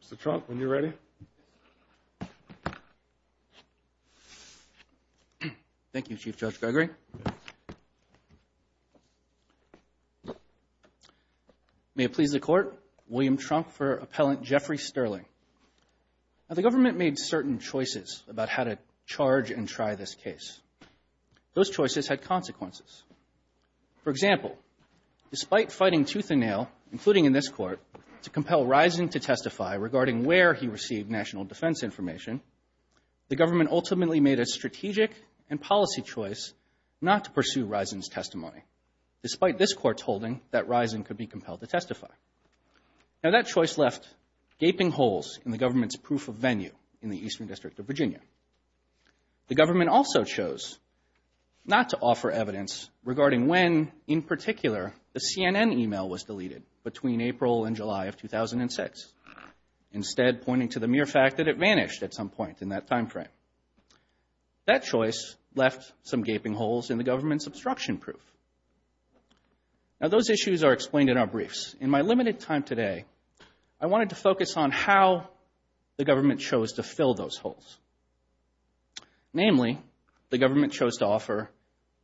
Mr. Trump, when you're ready. Thank you, Chief Judge Gregory. May it please the Court, William Trump for Appellant Jeffrey Sterling. The government made certain choices about how to charge and try this case. Those choices had consequences. For example, despite fighting tooth and nail, including in this Court, to compel Risen to testify regarding where he received national defense information, the government ultimately made a strategic and policy choice not to pursue Risen's testimony, despite this Court's holding that Risen could be compelled to testify. Now, that choice left gaping holes in the government's proof of venue in the Eastern District of Virginia. The government also chose not to offer evidence regarding when, in particular, the CNN email was deleted between April and July of 2006, instead pointing to the mere fact that it vanished at some point in that time frame. That choice left some gaping holes in the government's obstruction proof. Now, those issues are explained in our briefs. In my limited time today, I wanted to focus on how the government chose to fill those holes. Namely, the government chose to offer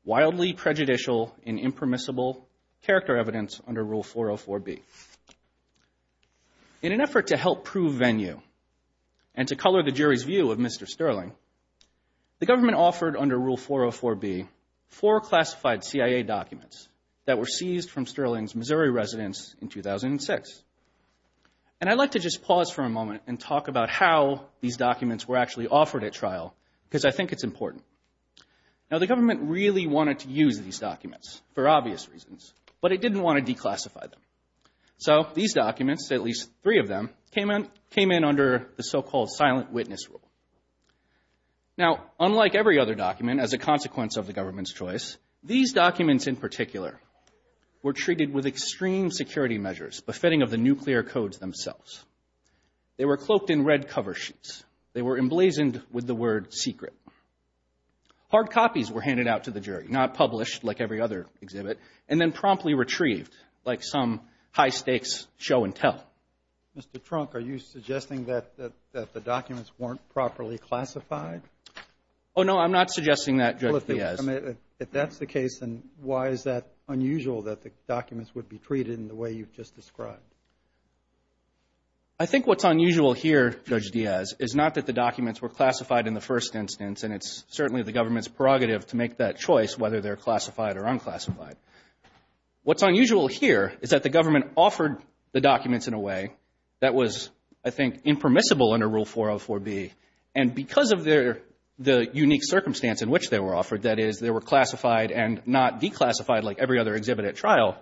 wildly prejudicial and impermissible character evidence under Rule 404B. In an effort to help prove venue and to color the jury's view of Mr. Sterling, the government offered under Rule 404B four classified CIA documents that were seized from Sterling's Missouri residence in 2006. And I'd like to just pause for a moment and talk about how these documents were actually offered at trial, because I think it's important. Now, the government really wanted to use these documents for obvious reasons, but it didn't want to declassify them. So these documents, at least three of them, came in under the so-called silent witness rule. Now, unlike every other document, as a consequence of the government's choice, these documents, in particular, were treated with extreme security measures, befitting of the nuclear codes themselves. They were cloaked in red cover sheets. They were emblazoned with the word secret. Hard copies were handed out to the jury, not published like every other exhibit, and then promptly retrieved like some high-stakes show and tell. Mr. Trunk, are you suggesting that the documents weren't properly classified? Oh, no, I'm not suggesting that, Judge Diaz. Well, if that's the case, then why is that unusual, that the documents would be treated in the way you've just described? I think what's unusual here, Judge Diaz, is not that the documents were classified in the first instance, and it's certainly the government's prerogative to make that choice, whether they're classified or unclassified. What's unusual here is that the government offered the documents in a way that was, I think, impermissible under Rule 404B, and because of the unique circumstance in which they were offered, that is, they were classified and not declassified like every other exhibit at trial,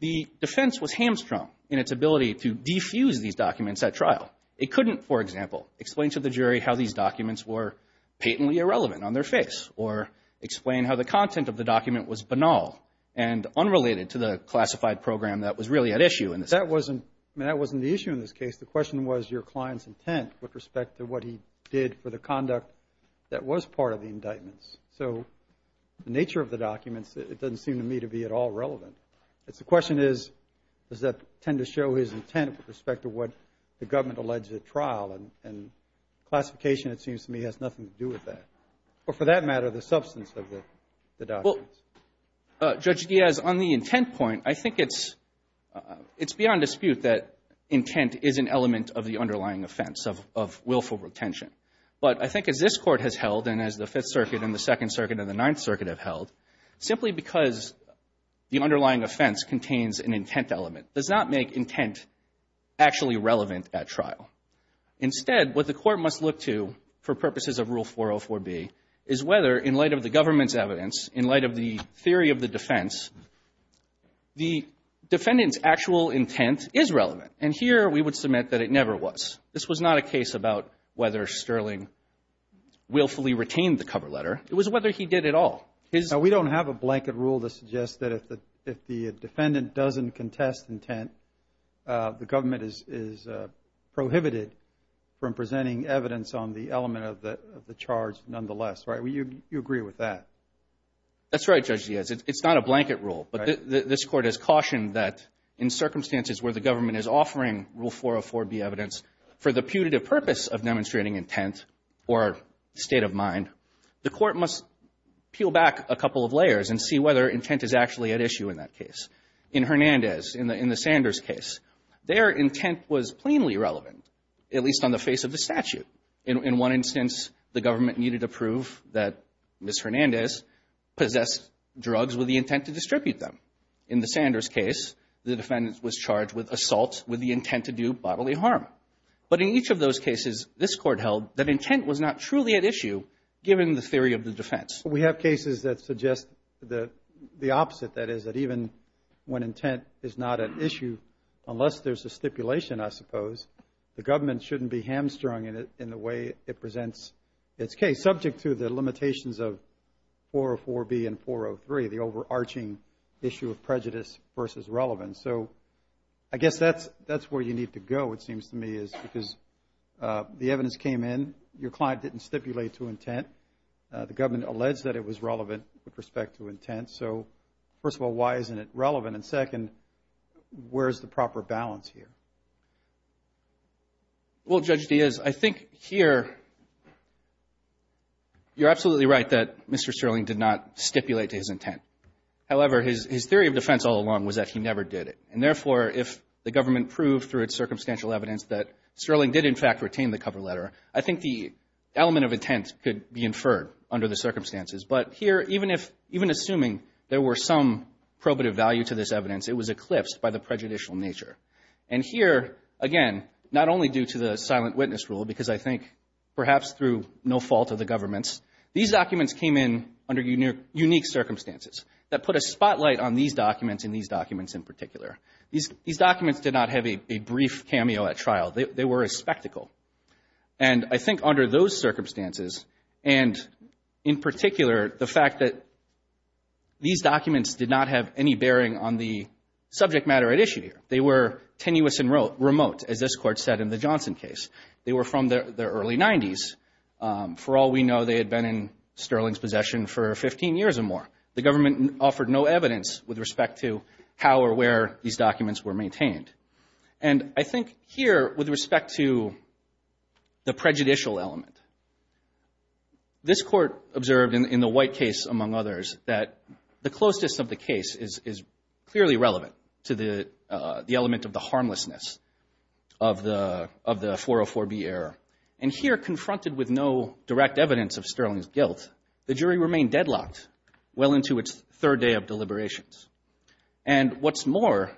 the defense was hamstrung in its ability to defuse these documents at trial. It couldn't, for example, explain to the jury how these documents were patently irrelevant on their face or explain how the content of the document was banal and unrelated to the classified program that was really at issue. That wasn't the issue in this case. The question was your client's intent with respect to what he did for the conduct that was part of the indictments. So the nature of the documents, it doesn't seem to me to be at all relevant. The question is does that tend to show his intent with respect to what the government alleged at trial, and classification, it seems to me, has nothing to do with that, or for that matter, the substance of the documents. Well, Judge Diaz, on the intent point, I think it's beyond dispute that intent is an element of the underlying offense of willful retention. But I think as this Court has held and as the Fifth Circuit and the Second Circuit and the Ninth Circuit have held, simply because the underlying offense contains an intent element does not make intent actually relevant at trial. Instead, what the Court must look to for purposes of Rule 404B is whether in light of the government's evidence, in light of the theory of the defense, the defendant's actual intent is relevant. And here we would submit that it never was. This was not a case about whether Sterling willfully retained the cover letter. It was whether he did at all. We don't have a blanket rule that suggests that if the defendant doesn't contest intent, the government is prohibited from presenting evidence on the element of the charge nonetheless, right? So you agree with that? That's right, Judge Diaz. It's not a blanket rule. But this Court has cautioned that in circumstances where the government is offering Rule 404B evidence for the putative purpose of demonstrating intent or state of mind, the Court must peel back a couple of layers and see whether intent is actually at issue in that case. In Hernandez, in the Sanders case, their intent was plainly relevant, at least on the face of the statute. In one instance, the government needed to prove that Ms. Hernandez possessed drugs with the intent to distribute them. In the Sanders case, the defendant was charged with assault with the intent to do bodily harm. But in each of those cases, this Court held that intent was not truly at issue, given the theory of the defense. We have cases that suggest the opposite, that is, that even when intent is not at issue, unless there's a stipulation, I suppose, the government shouldn't be hamstrung in the way it presents its case, subject to the limitations of 404B and 403, the overarching issue of prejudice versus relevance. So I guess that's where you need to go, it seems to me, is because the evidence came in. Your client didn't stipulate to intent. The government alleged that it was relevant with respect to intent. So, first of all, why isn't it relevant? And second, where's the proper balance here? Well, Judge Diaz, I think here, you're absolutely right that Mr. Sterling did not stipulate to his intent. However, his theory of defense all along was that he never did it. And therefore, if the government proved through its circumstantial evidence that Sterling did, in fact, retain the cover letter, I think the element of intent could be inferred under the circumstances. But here, even assuming there were some probative value to this evidence, it was eclipsed by the prejudicial nature. And here, again, not only due to the silent witness rule, because I think perhaps through no fault of the government's, these documents came in under unique circumstances that put a spotlight on these documents and these documents in particular. These documents did not have a brief cameo at trial. They were a spectacle. And I think under those circumstances, and in particular, the fact that these documents did not have any bearing on the subject matter at issue here. They were tenuous and remote, as this Court said in the Johnson case. They were from the early 90s. For all we know, they had been in Sterling's possession for 15 years or more. The government offered no evidence with respect to how or where these documents were maintained. And I think here, with respect to the prejudicial element, this Court observed in the White case, among others, that the closeness of the case is clearly relevant to the element of the harmlessness of the 404B error. And here, confronted with no direct evidence of Sterling's guilt, the jury remained deadlocked well into its third day of deliberations. And what's more,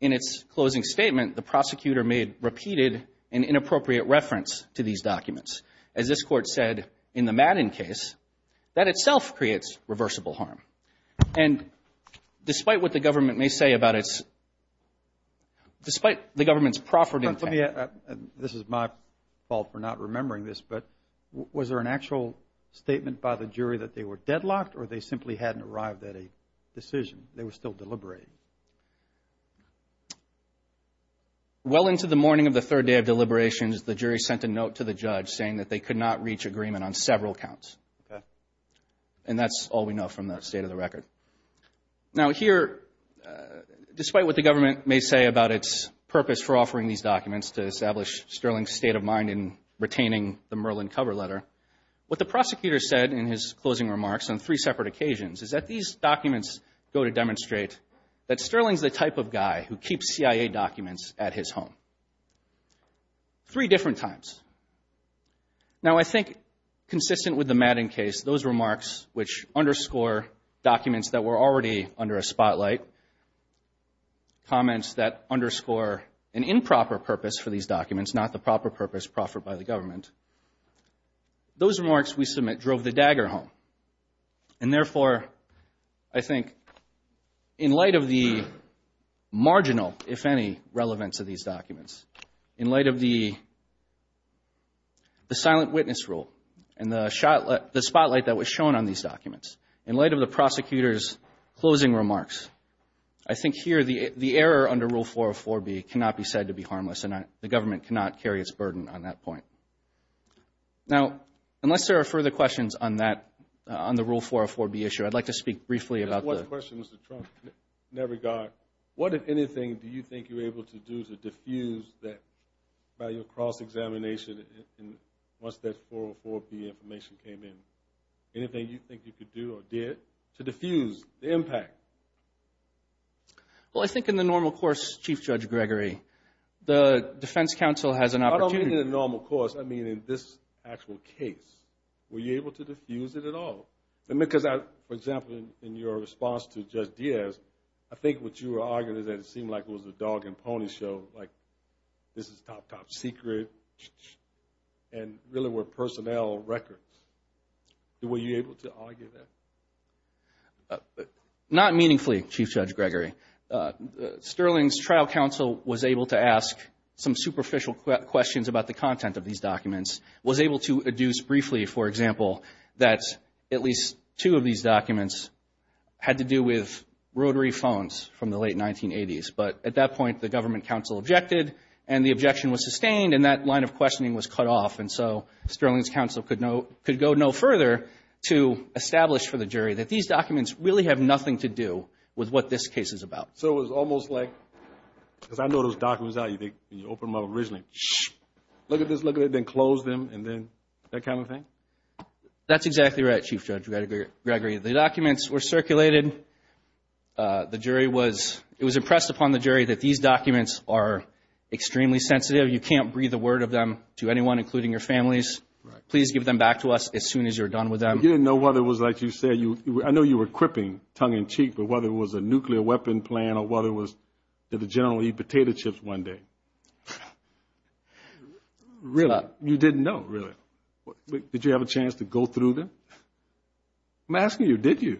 in its closing statement, the prosecutor made repeated and inappropriate reference to these documents. As this Court said in the Madden case, that itself creates reversible harm. And despite what the government may say about its, despite the government's proffered intent. This is my fault for not remembering this, but was there an actual statement by the jury that they were deadlocked or they simply hadn't arrived at a decision? They were still deliberating. Well into the morning of the third day of deliberations, the jury sent a note to the judge saying that they could not reach agreement on several counts. And that's all we know from the state of the record. Now here, despite what the government may say about its purpose for offering these documents to establish Sterling's state of mind in retaining the Merlin cover letter, what the prosecutor said in his closing remarks on three separate occasions is that these documents go to demonstrate that Sterling's the type of guy who keeps CIA documents at his home. Three different times. Now I think consistent with the Madden case, those remarks which underscore documents that were already under a spotlight, comments that underscore an improper purpose for these documents, documents not the proper purpose proffered by the government, those remarks we submit drove the dagger home. And therefore, I think in light of the marginal, if any, relevance of these documents, in light of the silent witness rule and the spotlight that was shown on these documents, in light of the prosecutor's closing remarks, I think here the error under Rule 404B cannot be said to be harmless and the government cannot carry its burden on that point. Now, unless there are further questions on that, on the Rule 404B issue, I'd like to speak briefly about the... One question, Mr. Trump, in that regard. What, if anything, do you think you were able to do to diffuse that value of cross-examination once that 404B information came in? Anything you think you could do or did to diffuse the impact? Well, I think in the normal course, Chief Judge Gregory, the defense counsel has an opportunity... I don't mean in the normal course. I mean in this actual case. Were you able to diffuse it at all? Because, for example, in your response to Judge Diaz, I think what you were arguing is that it seemed like it was a dog and pony show, like this is top, top secret, and really were personnel records. Were you able to argue that? Not meaningfully, Chief Judge Gregory. Sterling's trial counsel was able to ask some superficial questions about the content of these documents, was able to adduce briefly, for example, that at least two of these documents had to do with rotary phones from the late 1980s. But at that point, the government counsel objected, and the objection was sustained, and that line of questioning was cut off. And so Sterling's counsel could go no further to establish for the jury that these documents really have nothing to do with what this case is about. So it was almost like, because I know those documents, you open them up originally, look at this, look at that, then close them, and then that kind of thing? That's exactly right, Chief Judge Gregory. The documents were circulated. The jury was impressed upon the jury that these documents are extremely sensitive. You can't breathe a word of them to anyone, including your families. Please give them back to us as soon as you're done with them. You didn't know whether it was like you said. I know you were quipping tongue-in-cheek, but whether it was a nuclear weapon plan or whether it was did the general eat potato chips one day? Really? You didn't know, really? Did you have a chance to go through them? I'm asking you, did you?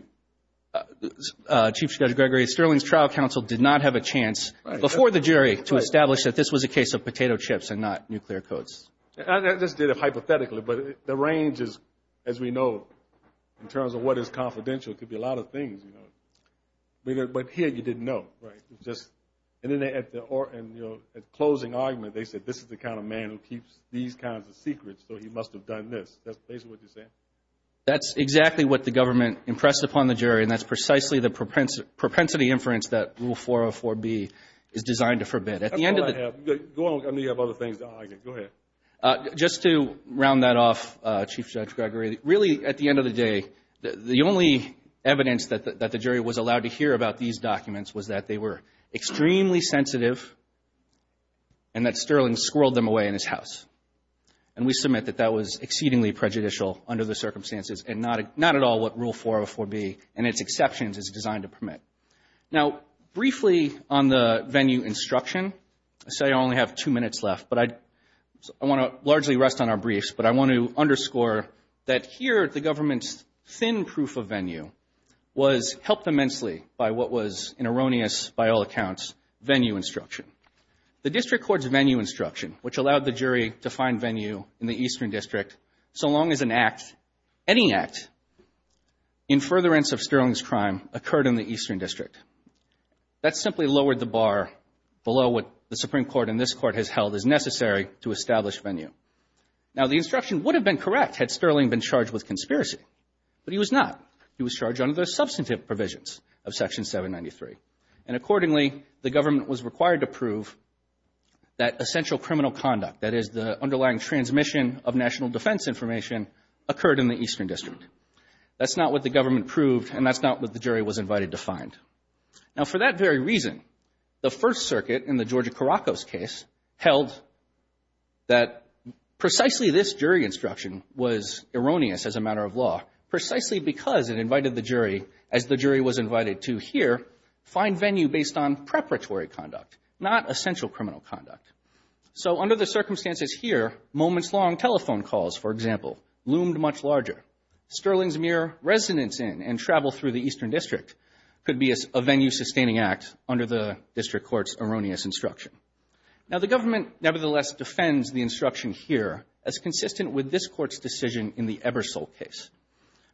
Chief Judge Gregory, Sterling's trial counsel did not have a chance before the jury to establish that this was a case of potato chips and not nuclear codes. I just did it hypothetically, but the range is, as we know, in terms of what is confidential, it could be a lot of things. But here you didn't know, right? And then at the closing argument, they said, this is the kind of man who keeps these kinds of secrets, so he must have done this. That's basically what you're saying? That's exactly what the government impressed upon the jury, and that's precisely the propensity inference that Rule 404B is designed to forbid. That's all I have. Go on. I know you have other things. Go ahead. Just to round that off, Chief Judge Gregory, really, at the end of the day, the only evidence that the jury was allowed to hear about these documents was that they were extremely sensitive and that Sterling squirreled them away in his house. And we submit that that was exceedingly prejudicial under the circumstances and not at all what Rule 404B and its exceptions is designed to permit. Now, briefly on the venue instruction, I say I only have two minutes left, but I want to largely rest on our briefs, but I want to underscore that here the government's thin proof of venue was helped immensely by what was an erroneous, by all accounts, venue instruction. The district court's venue instruction, which allowed the jury to find venue in the Eastern District, so long as an act, any act, in furtherance of Sterling's crime occurred in the Eastern District. That simply lowered the bar below what the Supreme Court and this Court has held is necessary to establish venue. Now, the instruction would have been correct had Sterling been charged with conspiracy, but he was not. He was charged under the substantive provisions of Section 793. And accordingly, the government was required to prove that essential criminal conduct, that is the underlying transmission of national defense information, occurred in the Eastern District. That's not what the government proved, and that's not what the jury was invited to find. Now, for that very reason, the First Circuit in the Georgia Caracos case held that precisely this jury instruction was erroneous as a matter of law, precisely because it invited the jury, as the jury was invited to here, find venue based on preparatory conduct, not essential criminal conduct. So under the circumstances here, moments-long telephone calls, for example, loomed much larger. Sterling's mere resonance in and travel through the Eastern District could be a venue-sustaining act under the district court's erroneous instruction. Now, the government nevertheless defends the instruction here as consistent with this Court's decision in the Ebersole case.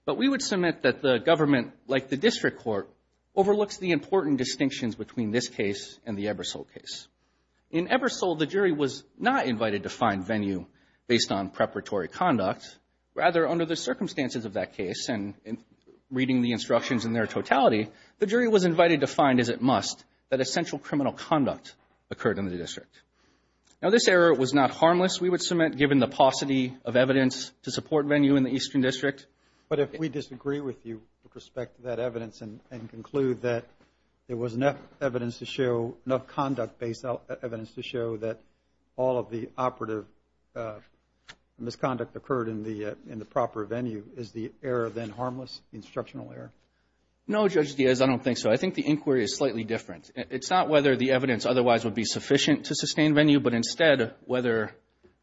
But we would submit that the government, like the district court, overlooks the important distinctions between this case and the Ebersole case. In Ebersole, the jury was not invited to find venue based on preparatory conduct. Rather, under the circumstances of that case and reading the instructions in their totality, the jury was invited to find, as it must, that essential criminal conduct occurred in the district. Now, this error was not harmless, we would submit, given the paucity of evidence to support venue in the Eastern District. But if we disagree with you with respect to that evidence and conclude that there was enough evidence to show, enough conduct-based evidence to show that all of the operative misconduct occurred in the proper venue, is the error then harmless, instructional error? No, Judge Diaz, I don't think so. I think the inquiry is slightly different. It's not whether the evidence otherwise would be sufficient to sustain venue, but instead whether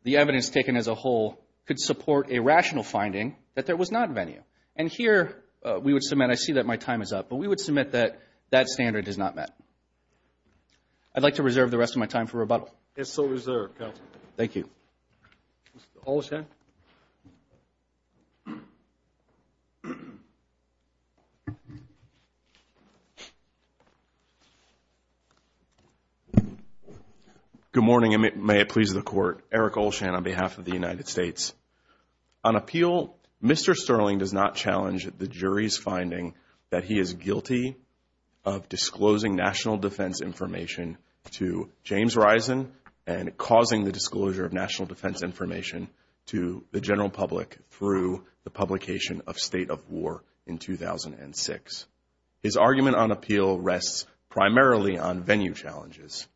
the evidence taken as a whole could support a rational finding that there was not venue. And here we would submit, I see that my time is up, but we would submit that that standard is not met. I'd like to reserve the rest of my time for rebuttal. It's so reserved, Counsel. Thank you. Eric Olshan. Good morning, and may it please the Court. Eric Olshan on behalf of the United States. On appeal, Mr. Sterling does not challenge the jury's finding that he is guilty of disclosing disclosure of national defense information to the general public through the publication of State of War in 2006. His argument on appeal rests primarily on venue challenges.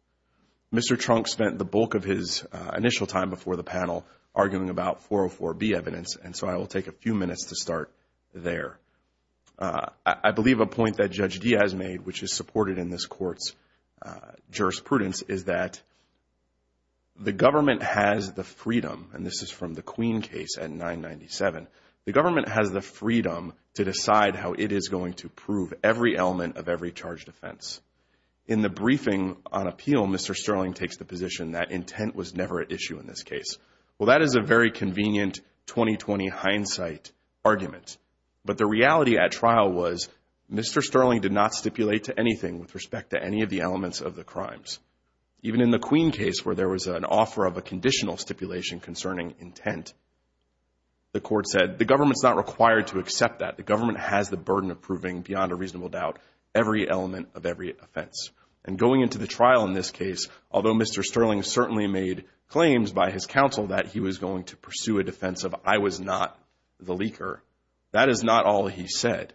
Mr. Trunk spent the bulk of his initial time before the panel arguing about 404B evidence, and so I will take a few minutes to start there. I believe a point that Judge Diaz made, which is supported in this Court's jurisprudence, is that the government has the freedom, and this is from the Queen case at 997, the government has the freedom to decide how it is going to prove every element of every charged offense. In the briefing on appeal, Mr. Sterling takes the position that intent was never an issue in this case. Well, that is a very convenient 2020 hindsight argument. But the reality at trial was Mr. Sterling did not stipulate to anything with respect to any of the elements of the crimes. Even in the Queen case where there was an offer of a conditional stipulation concerning intent, the Court said the government is not required to accept that. The government has the burden of proving beyond a reasonable doubt every element of every offense. And going into the trial in this case, although Mr. Sterling certainly made claims by his counsel that he was going to pursue a defense of I was not the leaker, that is not all he said.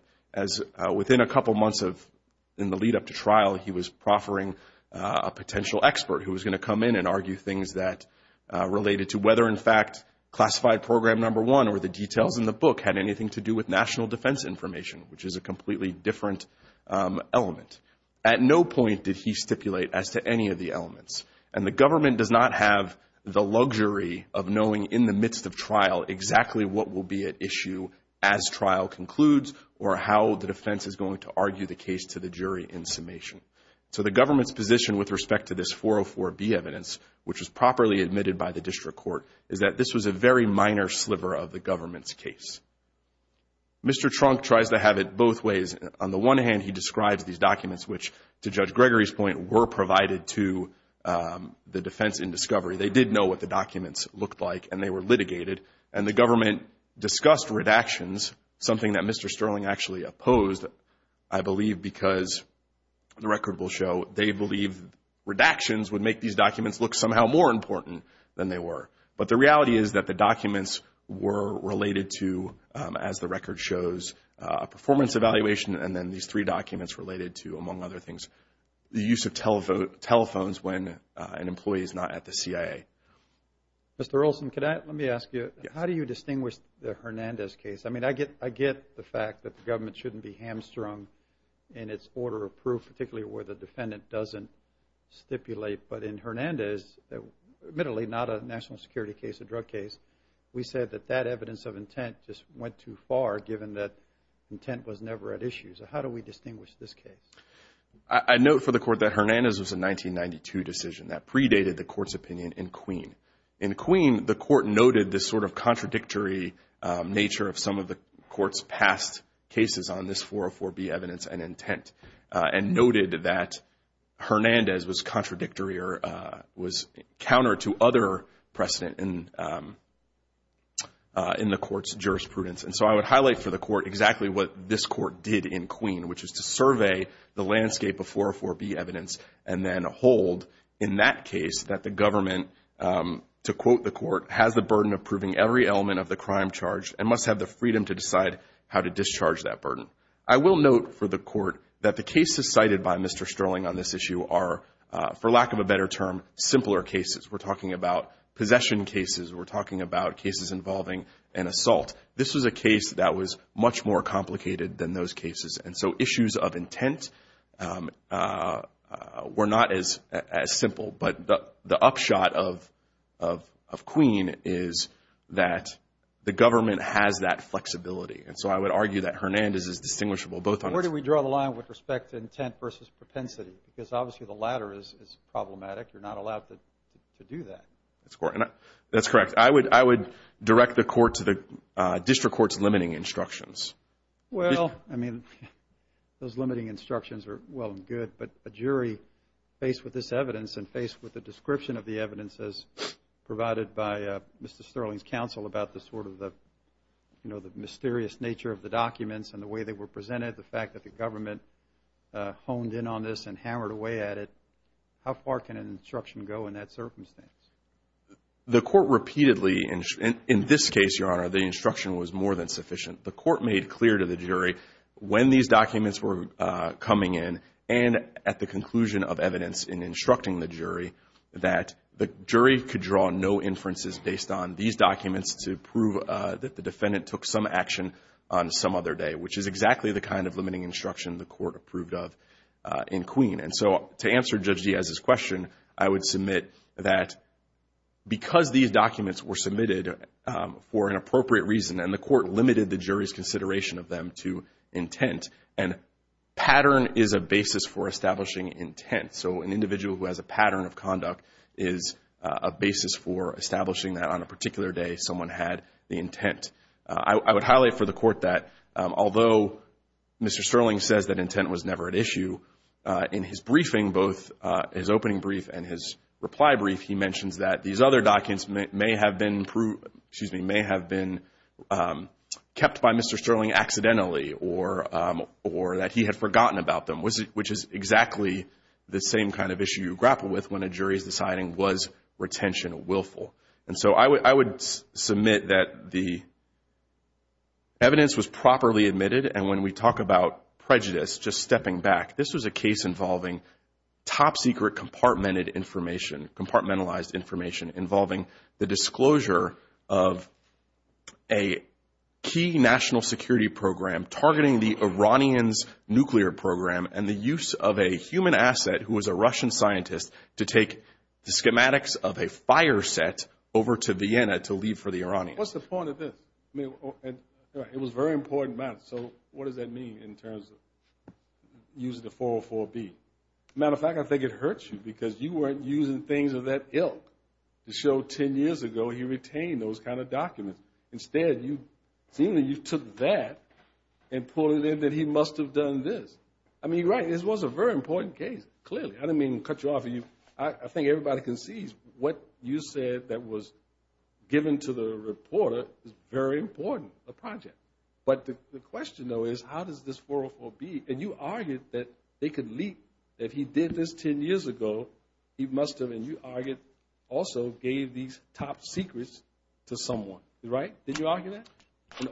Within a couple of months in the lead-up to trial, he was proffering a potential expert who was going to come in and argue things that related to whether, in fact, classified program number one or the details in the book had anything to do with national defense information, which is a completely different element. At no point did he stipulate as to any of the elements. And the government does not have the luxury of knowing in the midst of trial exactly what will be at issue as trial concludes or how the defense is going to argue the case to the jury in summation. So the government's position with respect to this 404B evidence, which was properly admitted by the District Court, is that this was a very minor sliver of the government's case. Mr. Trunk tries to have it both ways. On the one hand, he describes these documents which, to Judge Gregory's point, were provided to the defense in discovery. They did know what the documents looked like, and they were litigated. And the government discussed redactions, something that Mr. Sterling actually opposed, I believe, because the record will show they believed redactions would make these documents look somehow more important than they were. But the reality is that the documents were related to, as the record shows, performance evaluation and then these three documents related to, among other things, the use of telephones when an employee is not at the CIA. Mr. Olson, let me ask you, how do you distinguish the Hernandez case? I mean, I get the fact that the government shouldn't be hamstrung in its order of proof, particularly where the defendant doesn't stipulate. But in Hernandez, admittedly not a national security case, a drug case, we said that that evidence of intent just went too far given that intent was never at issue. So how do we distinguish this case? I note for the Court that Hernandez was a 1992 decision. That predated the Court's opinion in Queen. In Queen, the Court noted this sort of contradictory nature of some of the Court's past cases on this 404B evidence and intent and noted that Hernandez was contradictory or was counter to other precedent in the Court's jurisprudence. And so I would highlight for the Court exactly what this Court did in Queen, which is to survey the landscape of 404B evidence and then hold in that case that the government, to quote the Court, has the burden of proving every element of the crime charged and must have the freedom to decide how to discharge that burden. I will note for the Court that the cases cited by Mr. Sterling on this issue are, for lack of a better term, simpler cases. We're talking about possession cases. We're talking about cases involving an assault. This was a case that was much more complicated than those cases. And so issues of intent were not as simple. But the upshot of Queen is that the government has that flexibility. And so I would argue that Hernandez is distinguishable both on its… Where do we draw the line with respect to intent versus propensity? Because obviously the latter is problematic. You're not allowed to do that. That's correct. I would direct the Court to the district court's limiting instructions. Well, I mean, those limiting instructions are well and good, but a jury faced with this evidence and faced with the description of the evidence as provided by Mr. Sterling's counsel about the sort of the mysterious nature of the documents and the way they were presented, the fact that the government honed in on this and hammered away at it, how far can an instruction go in that circumstance? The Court repeatedly, in this case, Your Honor, the instruction was more than sufficient. The Court made clear to the jury when these documents were coming in and at the conclusion of evidence in instructing the jury that the jury could draw no inferences based on these documents to prove that the defendant took some action on some other day, which is exactly the kind of limiting instruction the Court approved of in Queen. And so to answer Judge Diaz's question, I would submit that because these documents were submitted for an appropriate reason and the Court limited the jury's consideration of them to intent, and pattern is a basis for establishing intent. So an individual who has a pattern of conduct is a basis for establishing that on a particular day someone had the intent. I would highlight for the Court that although Mr. Sterling says that intent was never at issue, in his briefing, both his opening brief and his reply brief, he mentions that these other documents may have been kept by Mr. Sterling accidentally or that he had forgotten about them, which is exactly the same kind of issue you grapple with when a jury is deciding was retention willful. And so I would submit that the evidence was properly admitted, and when we talk about prejudice, just stepping back, this was a case involving top-secret compartmented information, compartmentalized information, involving the disclosure of a key national security program targeting the Iranians' nuclear program and the use of a human asset who was a Russian scientist to take the schematics of a fire set over to Vienna to leave for the Iranians. What's the point of this? It was a very important matter, so what does that mean in terms of using the 404B? As a matter of fact, I think it hurts you because you weren't using things of that ilk to show 10 years ago he retained those kind of documents. Instead, seemingly you took that and put it in that he must have done this. I mean, you're right. This was a very important case, clearly. I didn't mean to cut you off. I think everybody can see what you said that was given to the reporter is very important, the project. But the question, though, is how does this 404B, and you argued that they could leak if he did this 10 years ago, he must have, and you argued also gave these top secrets to someone, right? Did you argue that?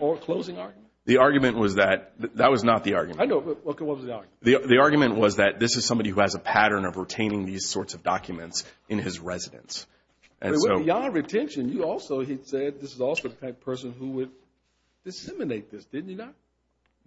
Or closing argument? The argument was that that was not the argument. I know, but what was the argument? The argument was that this is somebody who has a pattern of retaining these sorts of documents in his residence. Beyond retention, you also said this is also the type of person who would disseminate this, didn't you not?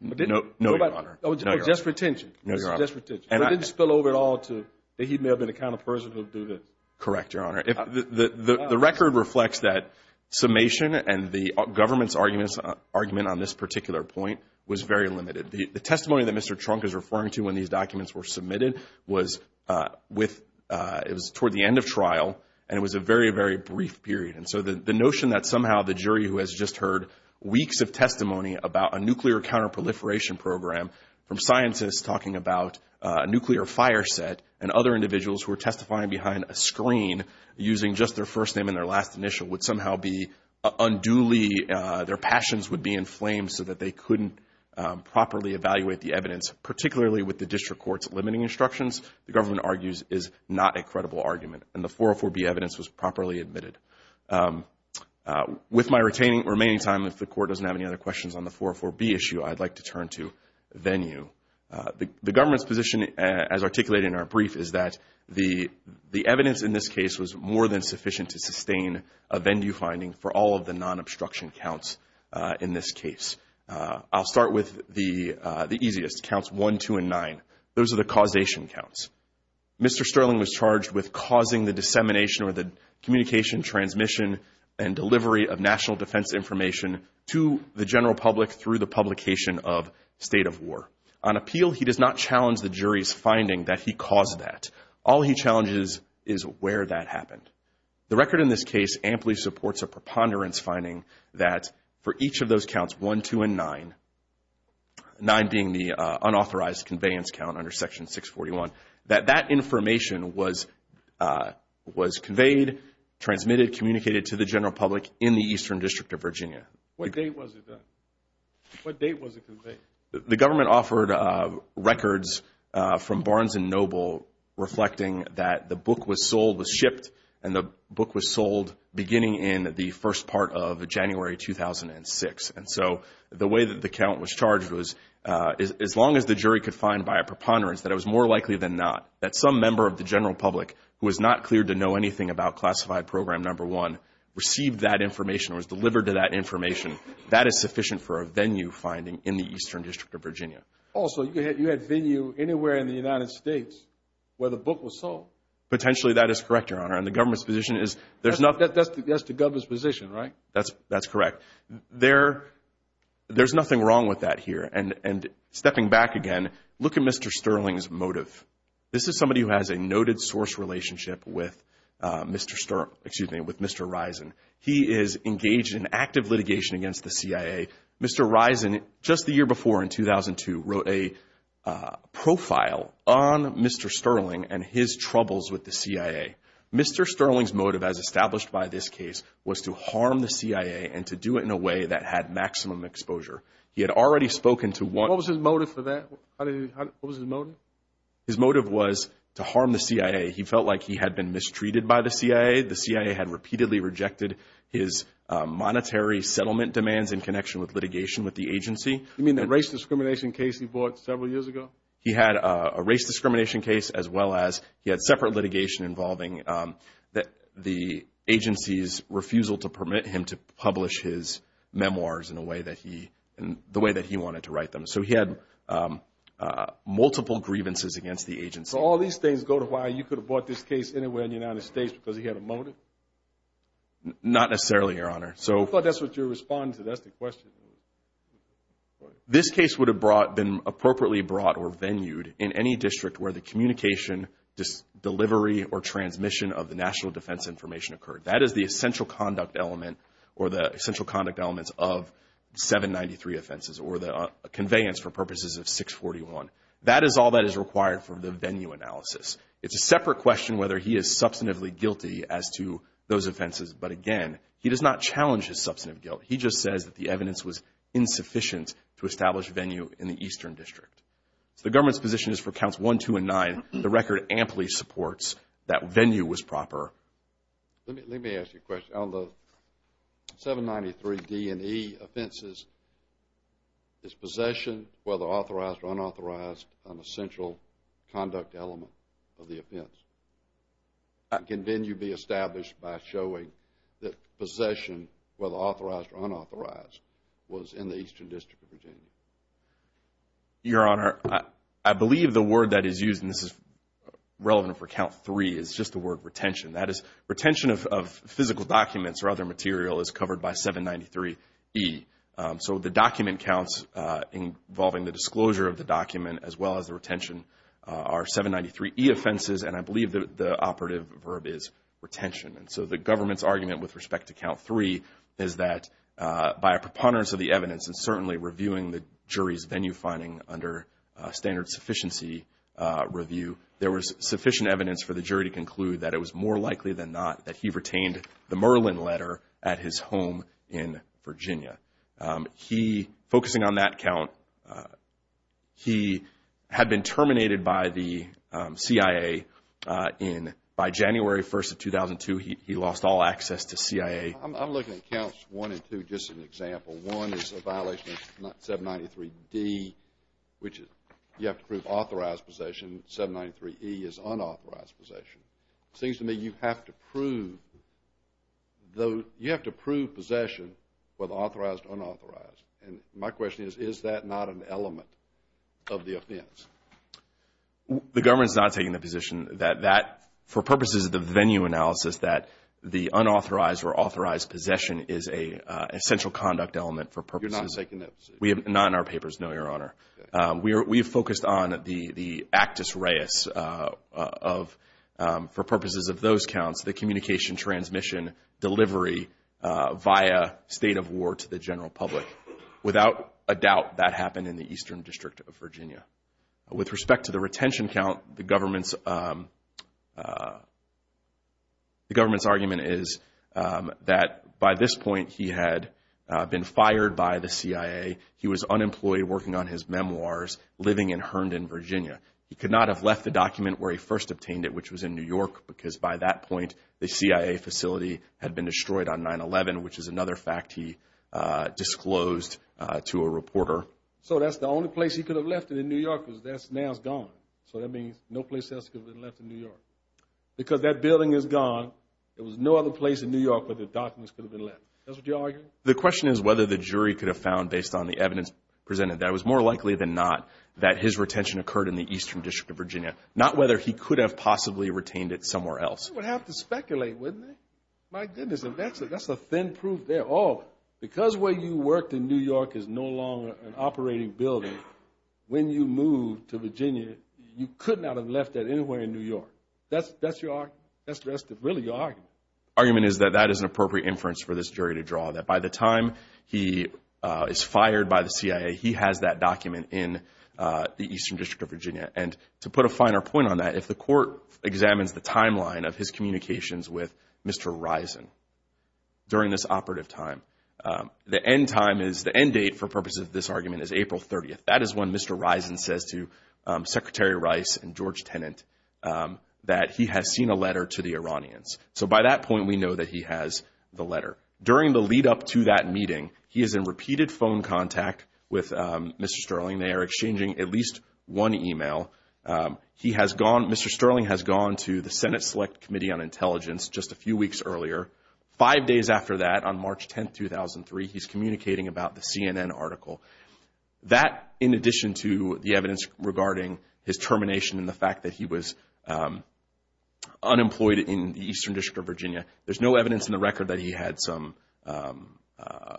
No, Your Honor. Oh, just retention. No, Your Honor. Just retention. It didn't spill over at all to that he may have been the kind of person who would do this. Correct, Your Honor. The record reflects that summation and the government's argument on this particular point was very limited. The testimony that Mr. Trunk is referring to when these documents were submitted was toward the end of trial, and it was a very, very brief period. And so the notion that somehow the jury who has just heard weeks of testimony about a nuclear counterproliferation program, from scientists talking about a nuclear fire set and other individuals who are testifying behind a screen using just their first name and their last initial, would somehow be unduly, their passions would be inflamed so that they couldn't properly evaluate the evidence, particularly with the district court's limiting instructions, the government argues, is not a credible argument. And the 404B evidence was properly admitted. With my remaining time, if the Court doesn't have any other questions on the 404B issue, I'd like to turn to venue. The government's position, as articulated in our brief, is that the evidence in this case was more than sufficient to sustain a venue finding for all of the non-obstruction counts in this case. I'll start with the easiest, counts 1, 2, and 9. Those are the causation counts. Mr. Sterling was charged with causing the dissemination or the communication, transmission, and delivery of national defense information to the general public through the publication of State of War. On appeal, he does not challenge the jury's finding that he caused that. All he challenges is where that happened. The record in this case amply supports a preponderance finding that for each of those counts, 1, 2, and 9, 9 being the unauthorized conveyance count under Section 641, that that information was conveyed, transmitted, communicated to the general public in the Eastern District of Virginia. What date was it conveyed? The government offered records from Barnes & Noble reflecting that the book was sold, was shipped, and the book was sold beginning in the first part of January 2006. And so the way that the count was charged was as long as the jury could find by a preponderance that it was more likely than not that some member of the general public who was not cleared to know anything about Classified Program Number 1 received that information or was delivered to that information, that is sufficient for a venue finding in the Eastern District of Virginia. Also, you had venue anywhere in the United States where the book was sold. Potentially that is correct, Your Honor. And the government's position is there's not – That's the government's position, right? That's correct. There's nothing wrong with that here. And stepping back again, look at Mr. Sterling's motive. This is somebody who has a noted source relationship with Mr. – excuse me, with Mr. Risen. He is engaged in active litigation against the CIA. Mr. Risen, just the year before in 2002, wrote a profile on Mr. Sterling and his troubles with the CIA. Mr. Sterling's motive, as established by this case, was to harm the CIA and to do it in a way that had maximum exposure. He had already spoken to one – What was his motive for that? What was his motive? His motive was to harm the CIA. He felt like he had been mistreated by the CIA. The CIA had repeatedly rejected his monetary settlement demands in connection with litigation with the agency. You mean the race discrimination case he brought several years ago? He had a race discrimination case as well as he had separate litigation involving the agency's refusal to permit him to publish his memoirs in a way that he – the way that he wanted to write them. So he had multiple grievances against the agency. So all these things go to why you could have brought this case anywhere in the United States because he had a motive? Not necessarily, Your Honor. I thought that's what you're responding to. That's the question. This case would have brought – been appropriately brought or venued in any district where the communication, delivery, or transmission of the national defense information occurred. That is the essential conduct element or the essential conduct elements of 793 offenses or the conveyance for purposes of 641. That is all that is required for the venue analysis. It's a separate question whether he is substantively guilty as to those offenses. But, again, he does not challenge his substantive guilt. He just says that the evidence was insufficient to establish venue in the eastern district. So the government's position is for counts 1, 2, and 9. The record amply supports that venue was proper. Let me ask you a question. On the 793 D&E offenses, is possession, whether authorized or unauthorized, an essential conduct element of the offense? Can venue be established by showing that possession, whether authorized or unauthorized, was in the eastern district of Virginia? Your Honor, I believe the word that is used, and this is relevant for count 3, is just the word retention. That is retention of physical documents or other material is covered by 793 E. So the document counts involving the disclosure of the document as well as the retention are 793 E offenses. And I believe the operative verb is retention. And so the government's argument with respect to count 3 is that by a preponderance of the evidence and certainly reviewing the jury's venue finding under standard sufficiency review, there was sufficient evidence for the jury to conclude that it was more likely than not that he retained the Merlin letter at his home in Virginia. He, focusing on that count, he had been terminated by the CIA in, by January 1st of 2002, he lost all access to CIA. I'm looking at counts 1 and 2 just as an example. One is a violation of 793 D, which you have to prove authorized possession. 793 E is unauthorized possession. It seems to me you have to prove possession with authorized, unauthorized. And my question is, is that not an element of the offense? The government is not taking the position that that, for purposes of the venue analysis, that the unauthorized or authorized possession is an essential conduct element for purposes. You're not taking that position? Not in our papers, no, Your Honor. We have focused on the Actus Reis of, for purposes of those counts, the communication transmission delivery via state of war to the general public. Without a doubt, that happened in the Eastern District of Virginia. With respect to the retention count, the government's, the government's argument is that by this point, he had been fired by the CIA. He was unemployed, working on his memoirs, living in Herndon, Virginia. He could not have left the document where he first obtained it, which was in New York, because by that point, the CIA facility had been destroyed on 9-11, which is another fact he disclosed to a reporter. So that's the only place he could have left it in New York, because now it's gone. So that means no place else could have been left in New York. Because that building is gone, there was no other place in New York where the documents could have been left. That's what you're arguing? The question is whether the jury could have found, based on the evidence presented, that it was more likely than not that his retention occurred in the Eastern District of Virginia, not whether he could have possibly retained it somewhere else. They would have to speculate, wouldn't they? My goodness, that's a thin proof there. Oh, because where you worked in New York is no longer an operating building, when you moved to Virginia, you could not have left that anywhere in New York. That's your argument? That's really your argument? My argument is that that is an appropriate inference for this jury to draw, that by the time he is fired by the CIA, he has that document in the Eastern District of Virginia. And to put a finer point on that, if the court examines the timeline of his communications with Mr. Risen during this operative time, the end date for purposes of this argument is April 30th. That is when Mr. Risen says to Secretary Rice and George Tenet that he has seen a letter to the Iranians. So by that point, we know that he has the letter. During the lead-up to that meeting, he is in repeated phone contact with Mr. Sterling. They are exchanging at least one email. Mr. Sterling has gone to the Senate Select Committee on Intelligence just a few weeks earlier. Five days after that, on March 10th, 2003, he's communicating about the CNN article. That, in addition to the evidence regarding his termination and the fact that he was unemployed in the Eastern District of Virginia, there's no evidence in the record that he had some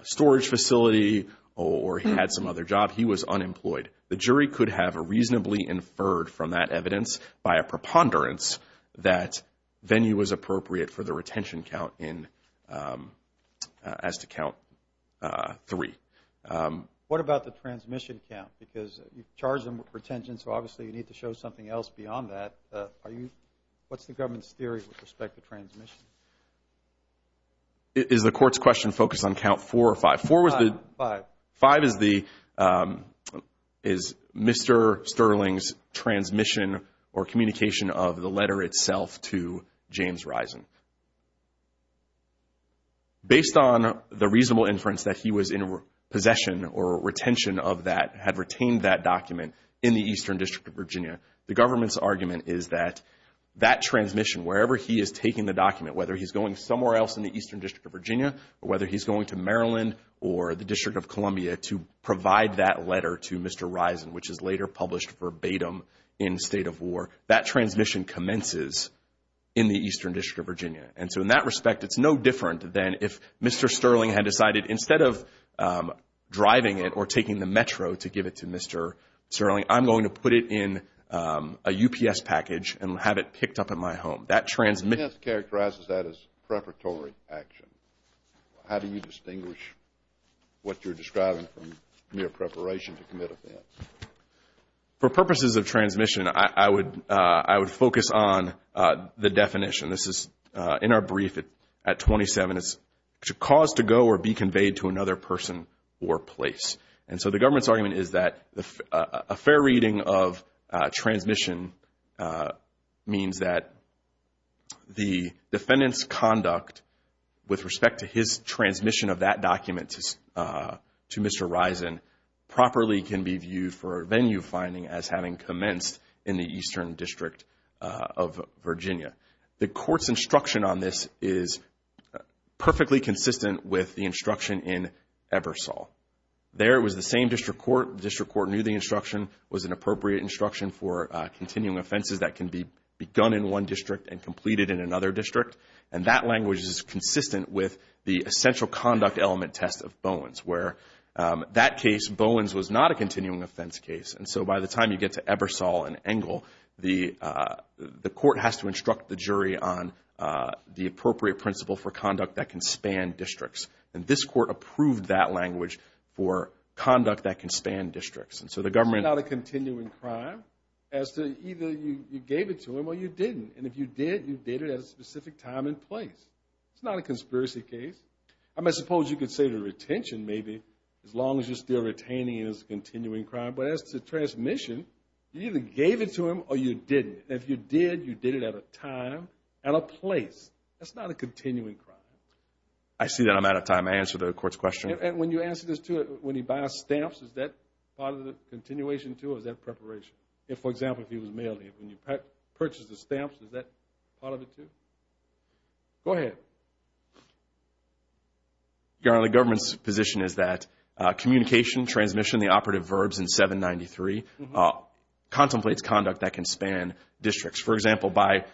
storage facility or he had some other job. He was unemployed. The jury could have reasonably inferred from that evidence, by a preponderance, that venue was appropriate for the retention count as to count three. What about the transmission count? Because you've charged him with retention, so obviously you need to show something else beyond that. What's the government's theory with respect to transmission? Is the court's question focused on count four or five? Five. Five is Mr. Sterling's transmission or communication of the letter itself to James Risen. Based on the reasonable inference that he was in possession or retention of that, had retained that document in the Eastern District of Virginia, the government's argument is that that transmission, wherever he is taking the document, whether he's going somewhere else in the Eastern District of Virginia or whether he's going to Maryland or the District of Columbia to provide that letter to Mr. Risen, which is later published verbatim in State of War, that transmission commences in the Eastern District of Virginia. And so in that respect, it's no different than if Mr. Sterling had decided, instead of driving it or taking the Metro to give it to Mr. Sterling, I'm going to put it in a UPS package and have it picked up at my home. The defense characterizes that as preparatory action. How do you distinguish what you're describing from mere preparation to commit offense? For purposes of transmission, I would focus on the definition. This is in our brief at 27. It's cause to go or be conveyed to another person or place. And so the government's argument is that a fair reading of transmission means that the defendant's conduct, with respect to his transmission of that document to Mr. Risen, properly can be viewed for venue finding as having commenced in the Eastern District of Virginia. The court's instruction on this is perfectly consistent with the instruction in Ebersole. There it was the same district court. The district court knew the instruction was an appropriate instruction for continuing offenses that can be begun in one district and completed in another district. And that language is consistent with the essential conduct element test of Bowens, where that case, Bowens, was not a continuing offense case. And so by the time you get to Ebersole and Engle, the court has to instruct the jury on the appropriate principle for conduct that can span districts. And this court approved that language for conduct that can span districts. And so the government- It's not a continuing crime as to either you gave it to him or you didn't. And if you did, you did it at a specific time and place. It's not a conspiracy case. I suppose you could say the retention, maybe, as long as you're still retaining it as a continuing crime. But as to transmission, you either gave it to him or you didn't. And if you did, you did it at a time and a place. That's not a continuing crime. I see that. I'm out of time. I answered the court's question. And when you answer this, too, when he buys stamps, is that part of the continuation, too, or is that preparation? If, for example, he was mailing it, when you purchase the stamps, is that part of it, too? Go ahead. Your Honor, the government's position is that communication, transmission, the operative verbs in 793 contemplates conduct that can span districts. For example, by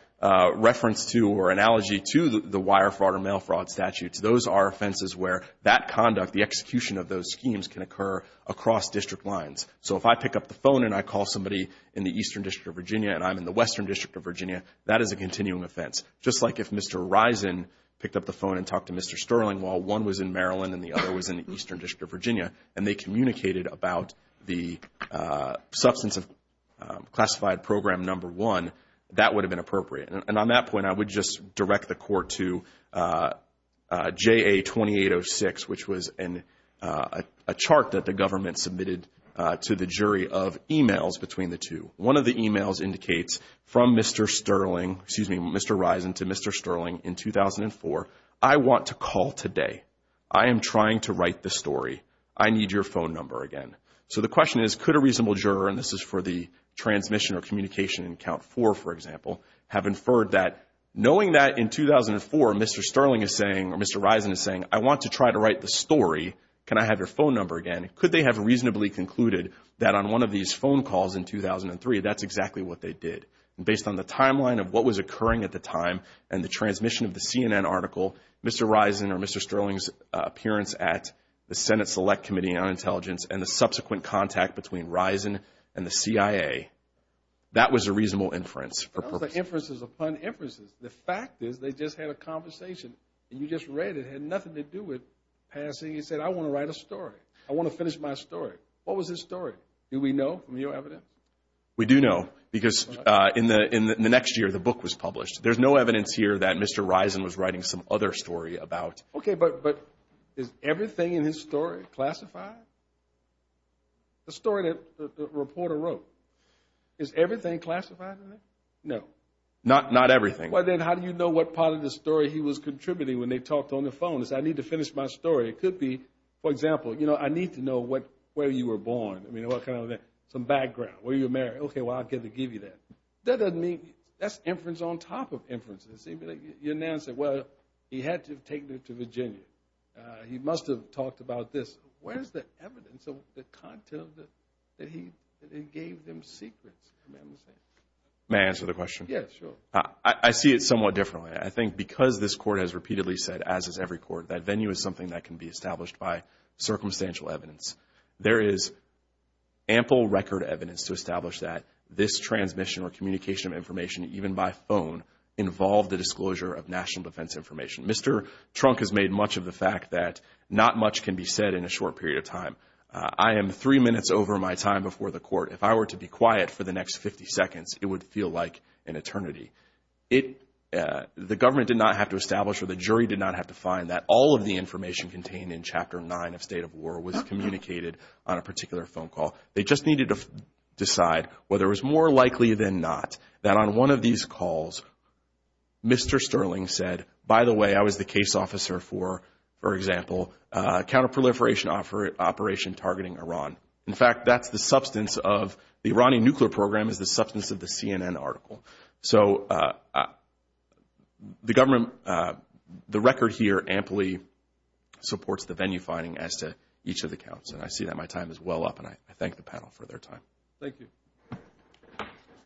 reference to or analogy to the wire fraud or mail fraud statutes, those are offenses where that conduct, the execution of those schemes, can occur across district lines. So if I pick up the phone and I call somebody in the Eastern District of Virginia and I'm in the Western District of Virginia, that is a continuing offense. Just like if Mr. Risen picked up the phone and talked to Mr. Sterling while one was in Maryland and the other was in the Eastern District of Virginia, and they communicated about the substance of classified program number one, that would have been appropriate. And on that point, I would just direct the court to JA-2806, which was a chart that the government submitted to the jury of emails between the two. One of the emails indicates from Mr. Sterling, excuse me, Mr. Risen to Mr. Sterling in 2004, I want to call today. I am trying to write the story. I need your phone number again. So the question is, could a reasonable juror, and this is for the transmission or communication in count four, for example, have inferred that knowing that in 2004 Mr. Sterling is saying or Mr. Risen is saying, I want to try to write the story, can I have your phone number again? Could they have reasonably concluded that on one of these phone calls in 2003, that's exactly what they did? And based on the timeline of what was occurring at the time and the transmission of the CNN article, Mr. Risen or Mr. Sterling's appearance at the Senate Select Committee on Intelligence and the subsequent contact between Risen and the CIA, that was a reasonable inference. Those are inferences upon inferences. The fact is they just had a conversation, and you just read it. It had nothing to do with passing. You said, I want to write a story. I want to finish my story. What was his story? Do we know from your evidence? We do know because in the next year the book was published. There's no evidence here that Mr. Risen was writing some other story about. Okay, but is everything in his story classified? The story that the reporter wrote, is everything classified in there? No. Not everything. Well, then how do you know what part of the story he was contributing when they talked on the phone? He said, I need to finish my story. It could be, for example, you know, I need to know where you were born. I mean, what kind of, some background. Where you were married. Okay, well, I'll give you that. That doesn't mean, that's inference on top of inference. Your nan said, well, he had to have taken her to Virginia. He must have talked about this. Where's the evidence of the content that he gave them secrets? May I answer the question? Yes, sure. I see it somewhat differently. I think because this court has repeatedly said, as has every court, that venue is something that can be established by circumstantial evidence. There is ample record evidence to establish that this transmission or communication of information, even by phone, involved the disclosure of national defense information. Mr. Trunk has made much of the fact that not much can be said in a short period of time. I am three minutes over my time before the court. If I were to be quiet for the next 50 seconds, it would feel like an eternity. The government did not have to establish, or the jury did not have to find, that all of the information contained in Chapter 9 of State of War was communicated on a particular phone call. They just needed to decide whether it was more likely than not that on one of these calls, Mr. Sterling said, by the way, I was the case officer for, for example, counterproliferation operation targeting Iran. In fact, that's the substance of the Iranian nuclear program is the substance of the CNN article. So the government, the record here, amply supports the venue finding as to each of the counts. And I see that my time is well up, and I thank the panel for their time. Thank you.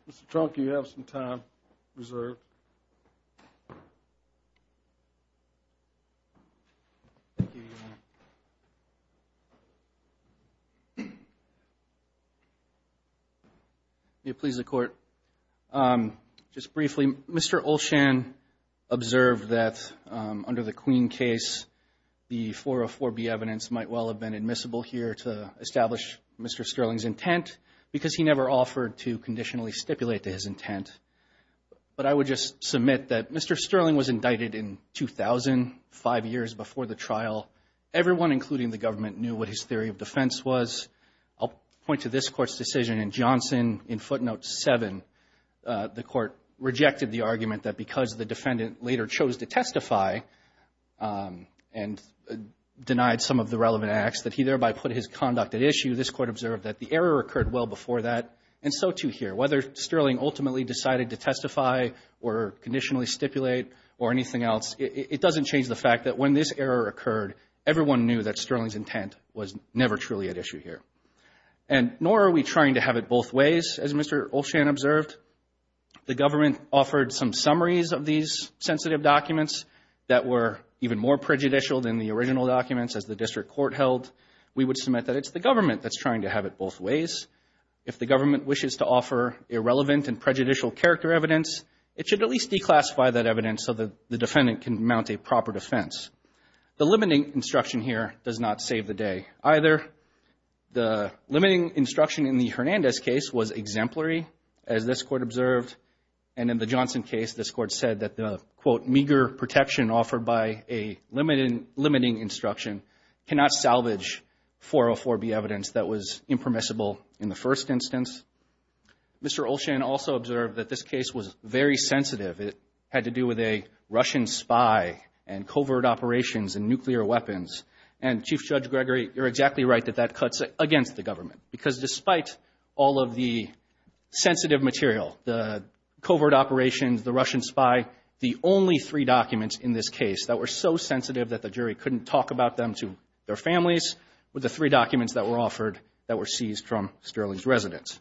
Mr. Trunk, you have some time reserved. Thank you, Your Honor. May it please the Court. Just briefly, Mr. Olshan observed that under the Queen case, the 404B evidence might well have been admissible here to establish Mr. Sterling's intent, because he never offered to conditionally stipulate his intent. But I would just submit that Mr. Sterling was indicted in 2000, five years before the trial. Everyone, including the government, knew what his theory of defense was. I'll point to this Court's decision in Johnson in footnote 7. The Court rejected the argument that because the defendant later chose to testify and denied some of the relevant acts, that he thereby put his conduct at issue. This Court observed that the error occurred well before that, and so too here. Whether Sterling ultimately decided to testify or conditionally stipulate or anything else, it doesn't change the fact that when this error occurred, everyone knew that Sterling's intent was never truly at issue here. And nor are we trying to have it both ways, as Mr. Olshan observed. The government offered some summaries of these sensitive documents that were even more prejudicial than the original documents, as the District Court held. We would submit that it's the government that's trying to have it both ways. If the government wishes to offer irrelevant and prejudicial character evidence, it should at least declassify that evidence so that the defendant can mount a proper defense. The limiting instruction here does not save the day either. The limiting instruction in the Hernandez case was exemplary, as this Court observed. And in the Johnson case, this Court said that the, quote, meager protection offered by a limiting instruction cannot salvage 404B evidence that was impermissible in the first instance. Mr. Olshan also observed that this case was very sensitive. It had to do with a Russian spy and covert operations and nuclear weapons. And, Chief Judge Gregory, you're exactly right that that cuts against the government because despite all of the sensitive material, the covert operations, the Russian spy, the only three documents in this case that were so sensitive that the jury couldn't talk about them to their families were the three documents that were offered that were seized from Sterling's residence.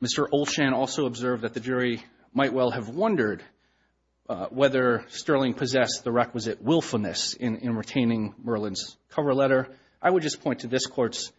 Mr. Olshan also observed that the jury might well have wondered whether Sterling possessed the requisite willfulness in retaining Merlin's cover letter. I would just point to this Court's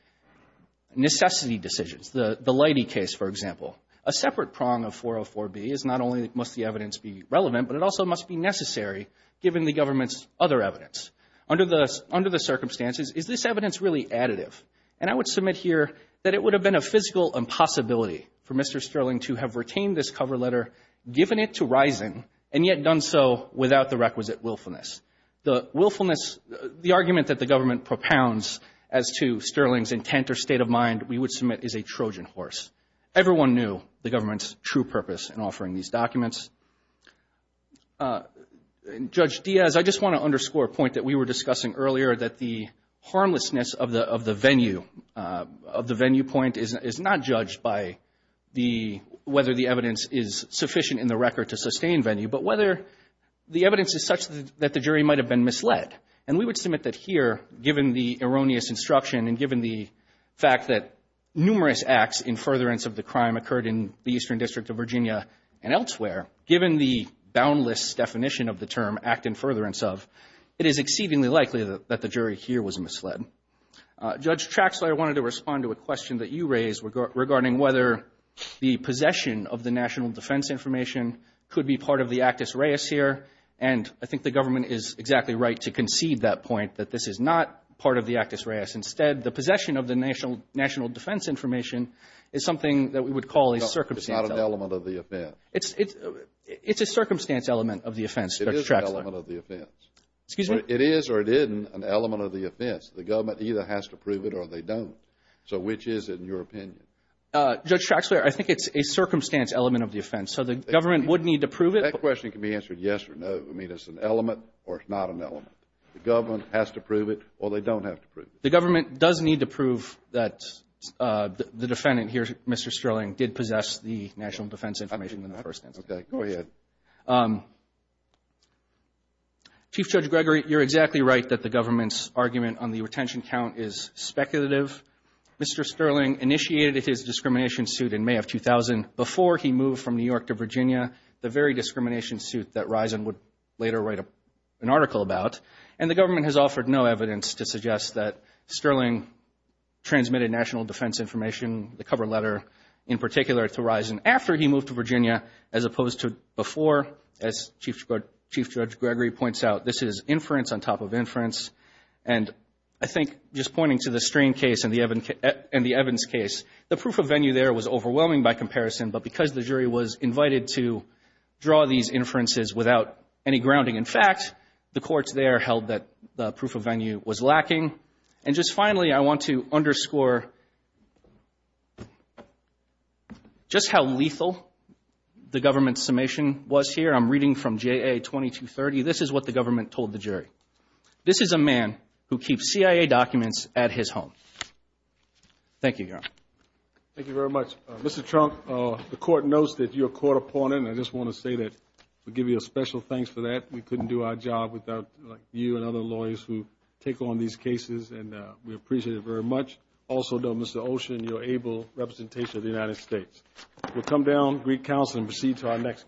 necessity decisions, the Leidy case, for example. A separate prong of 404B is not only must the evidence be relevant, but it also must be necessary given the government's other evidence. Under the circumstances, is this evidence really additive? And I would submit here that it would have been a physical impossibility for Mr. Sterling to have retained this cover letter, given it to Rising, and yet done so without the requisite willfulness. The willfulness, the argument that the government propounds as to Sterling's intent or state of mind, we would submit is a Trojan horse. Everyone knew the government's true purpose in offering these documents. Judge Diaz, I just want to underscore a point that we were discussing earlier, that the harmlessness of the venue point is not judged by whether the evidence is sufficient in the record to sustain venue, but whether the evidence is such that the jury might have been misled. And we would submit that here, given the erroneous instruction and given the fact that numerous acts in furtherance of the crime occurred in the Eastern District of Virginia and elsewhere, given the boundless definition of the term act in furtherance of, it is exceedingly likely that the jury here was misled. Judge Traxler, I wanted to respond to a question that you raised regarding whether the possession of the national defense information could be part of the actus reus here. And I think the government is exactly right to concede that point, that this is not part of the actus reus. Instead, the possession of the national defense information is something that we would call a circumstance. No, it's not an element of the offense. It's a circumstance element of the offense, Judge Traxler. It is an element of the offense. Excuse me? It is or it isn't an element of the offense. The government either has to prove it or they don't. So which is, in your opinion? Judge Traxler, I think it's a circumstance element of the offense. So the government would need to prove it. That question can be answered yes or no. I mean, it's an element or it's not an element. The government has to prove it or they don't have to prove it. The government does need to prove that the defendant here, Mr. Sterling, did possess the national defense information in the first instance. Okay. Go ahead. Chief Judge Gregory, you're exactly right that the government's argument on the retention count is speculative. Mr. Sterling initiated his discrimination suit in May of 2000. Before he moved from New York to Virginia, the very discrimination suit that Risen would later write an article about. And the government has offered no evidence to suggest that Sterling transmitted national defense information, the cover letter, in particular to Risen after he moved to Virginia as opposed to before. As Chief Judge Gregory points out, this is inference on top of inference. And I think just pointing to the Strain case and the Evans case, the proof of venue there was overwhelming by comparison, but because the jury was invited to draw these inferences without any grounding in fact, the courts there held that the proof of venue was lacking. And just finally, I want to underscore just how lethal the government's summation was here. I'm reading from JA 2230. This is what the government told the jury. This is a man who keeps CIA documents at his home. Thank you, Your Honor. Thank you very much. Mr. Trunk, the court knows that you're a court opponent, and I just want to say that we give you a special thanks for that. We couldn't do our job without you and other lawyers who take on these cases, and we appreciate it very much. Also, though, Mr. Olshan, you're able representation of the United States. We'll come down, greet counsel, and proceed to our next case.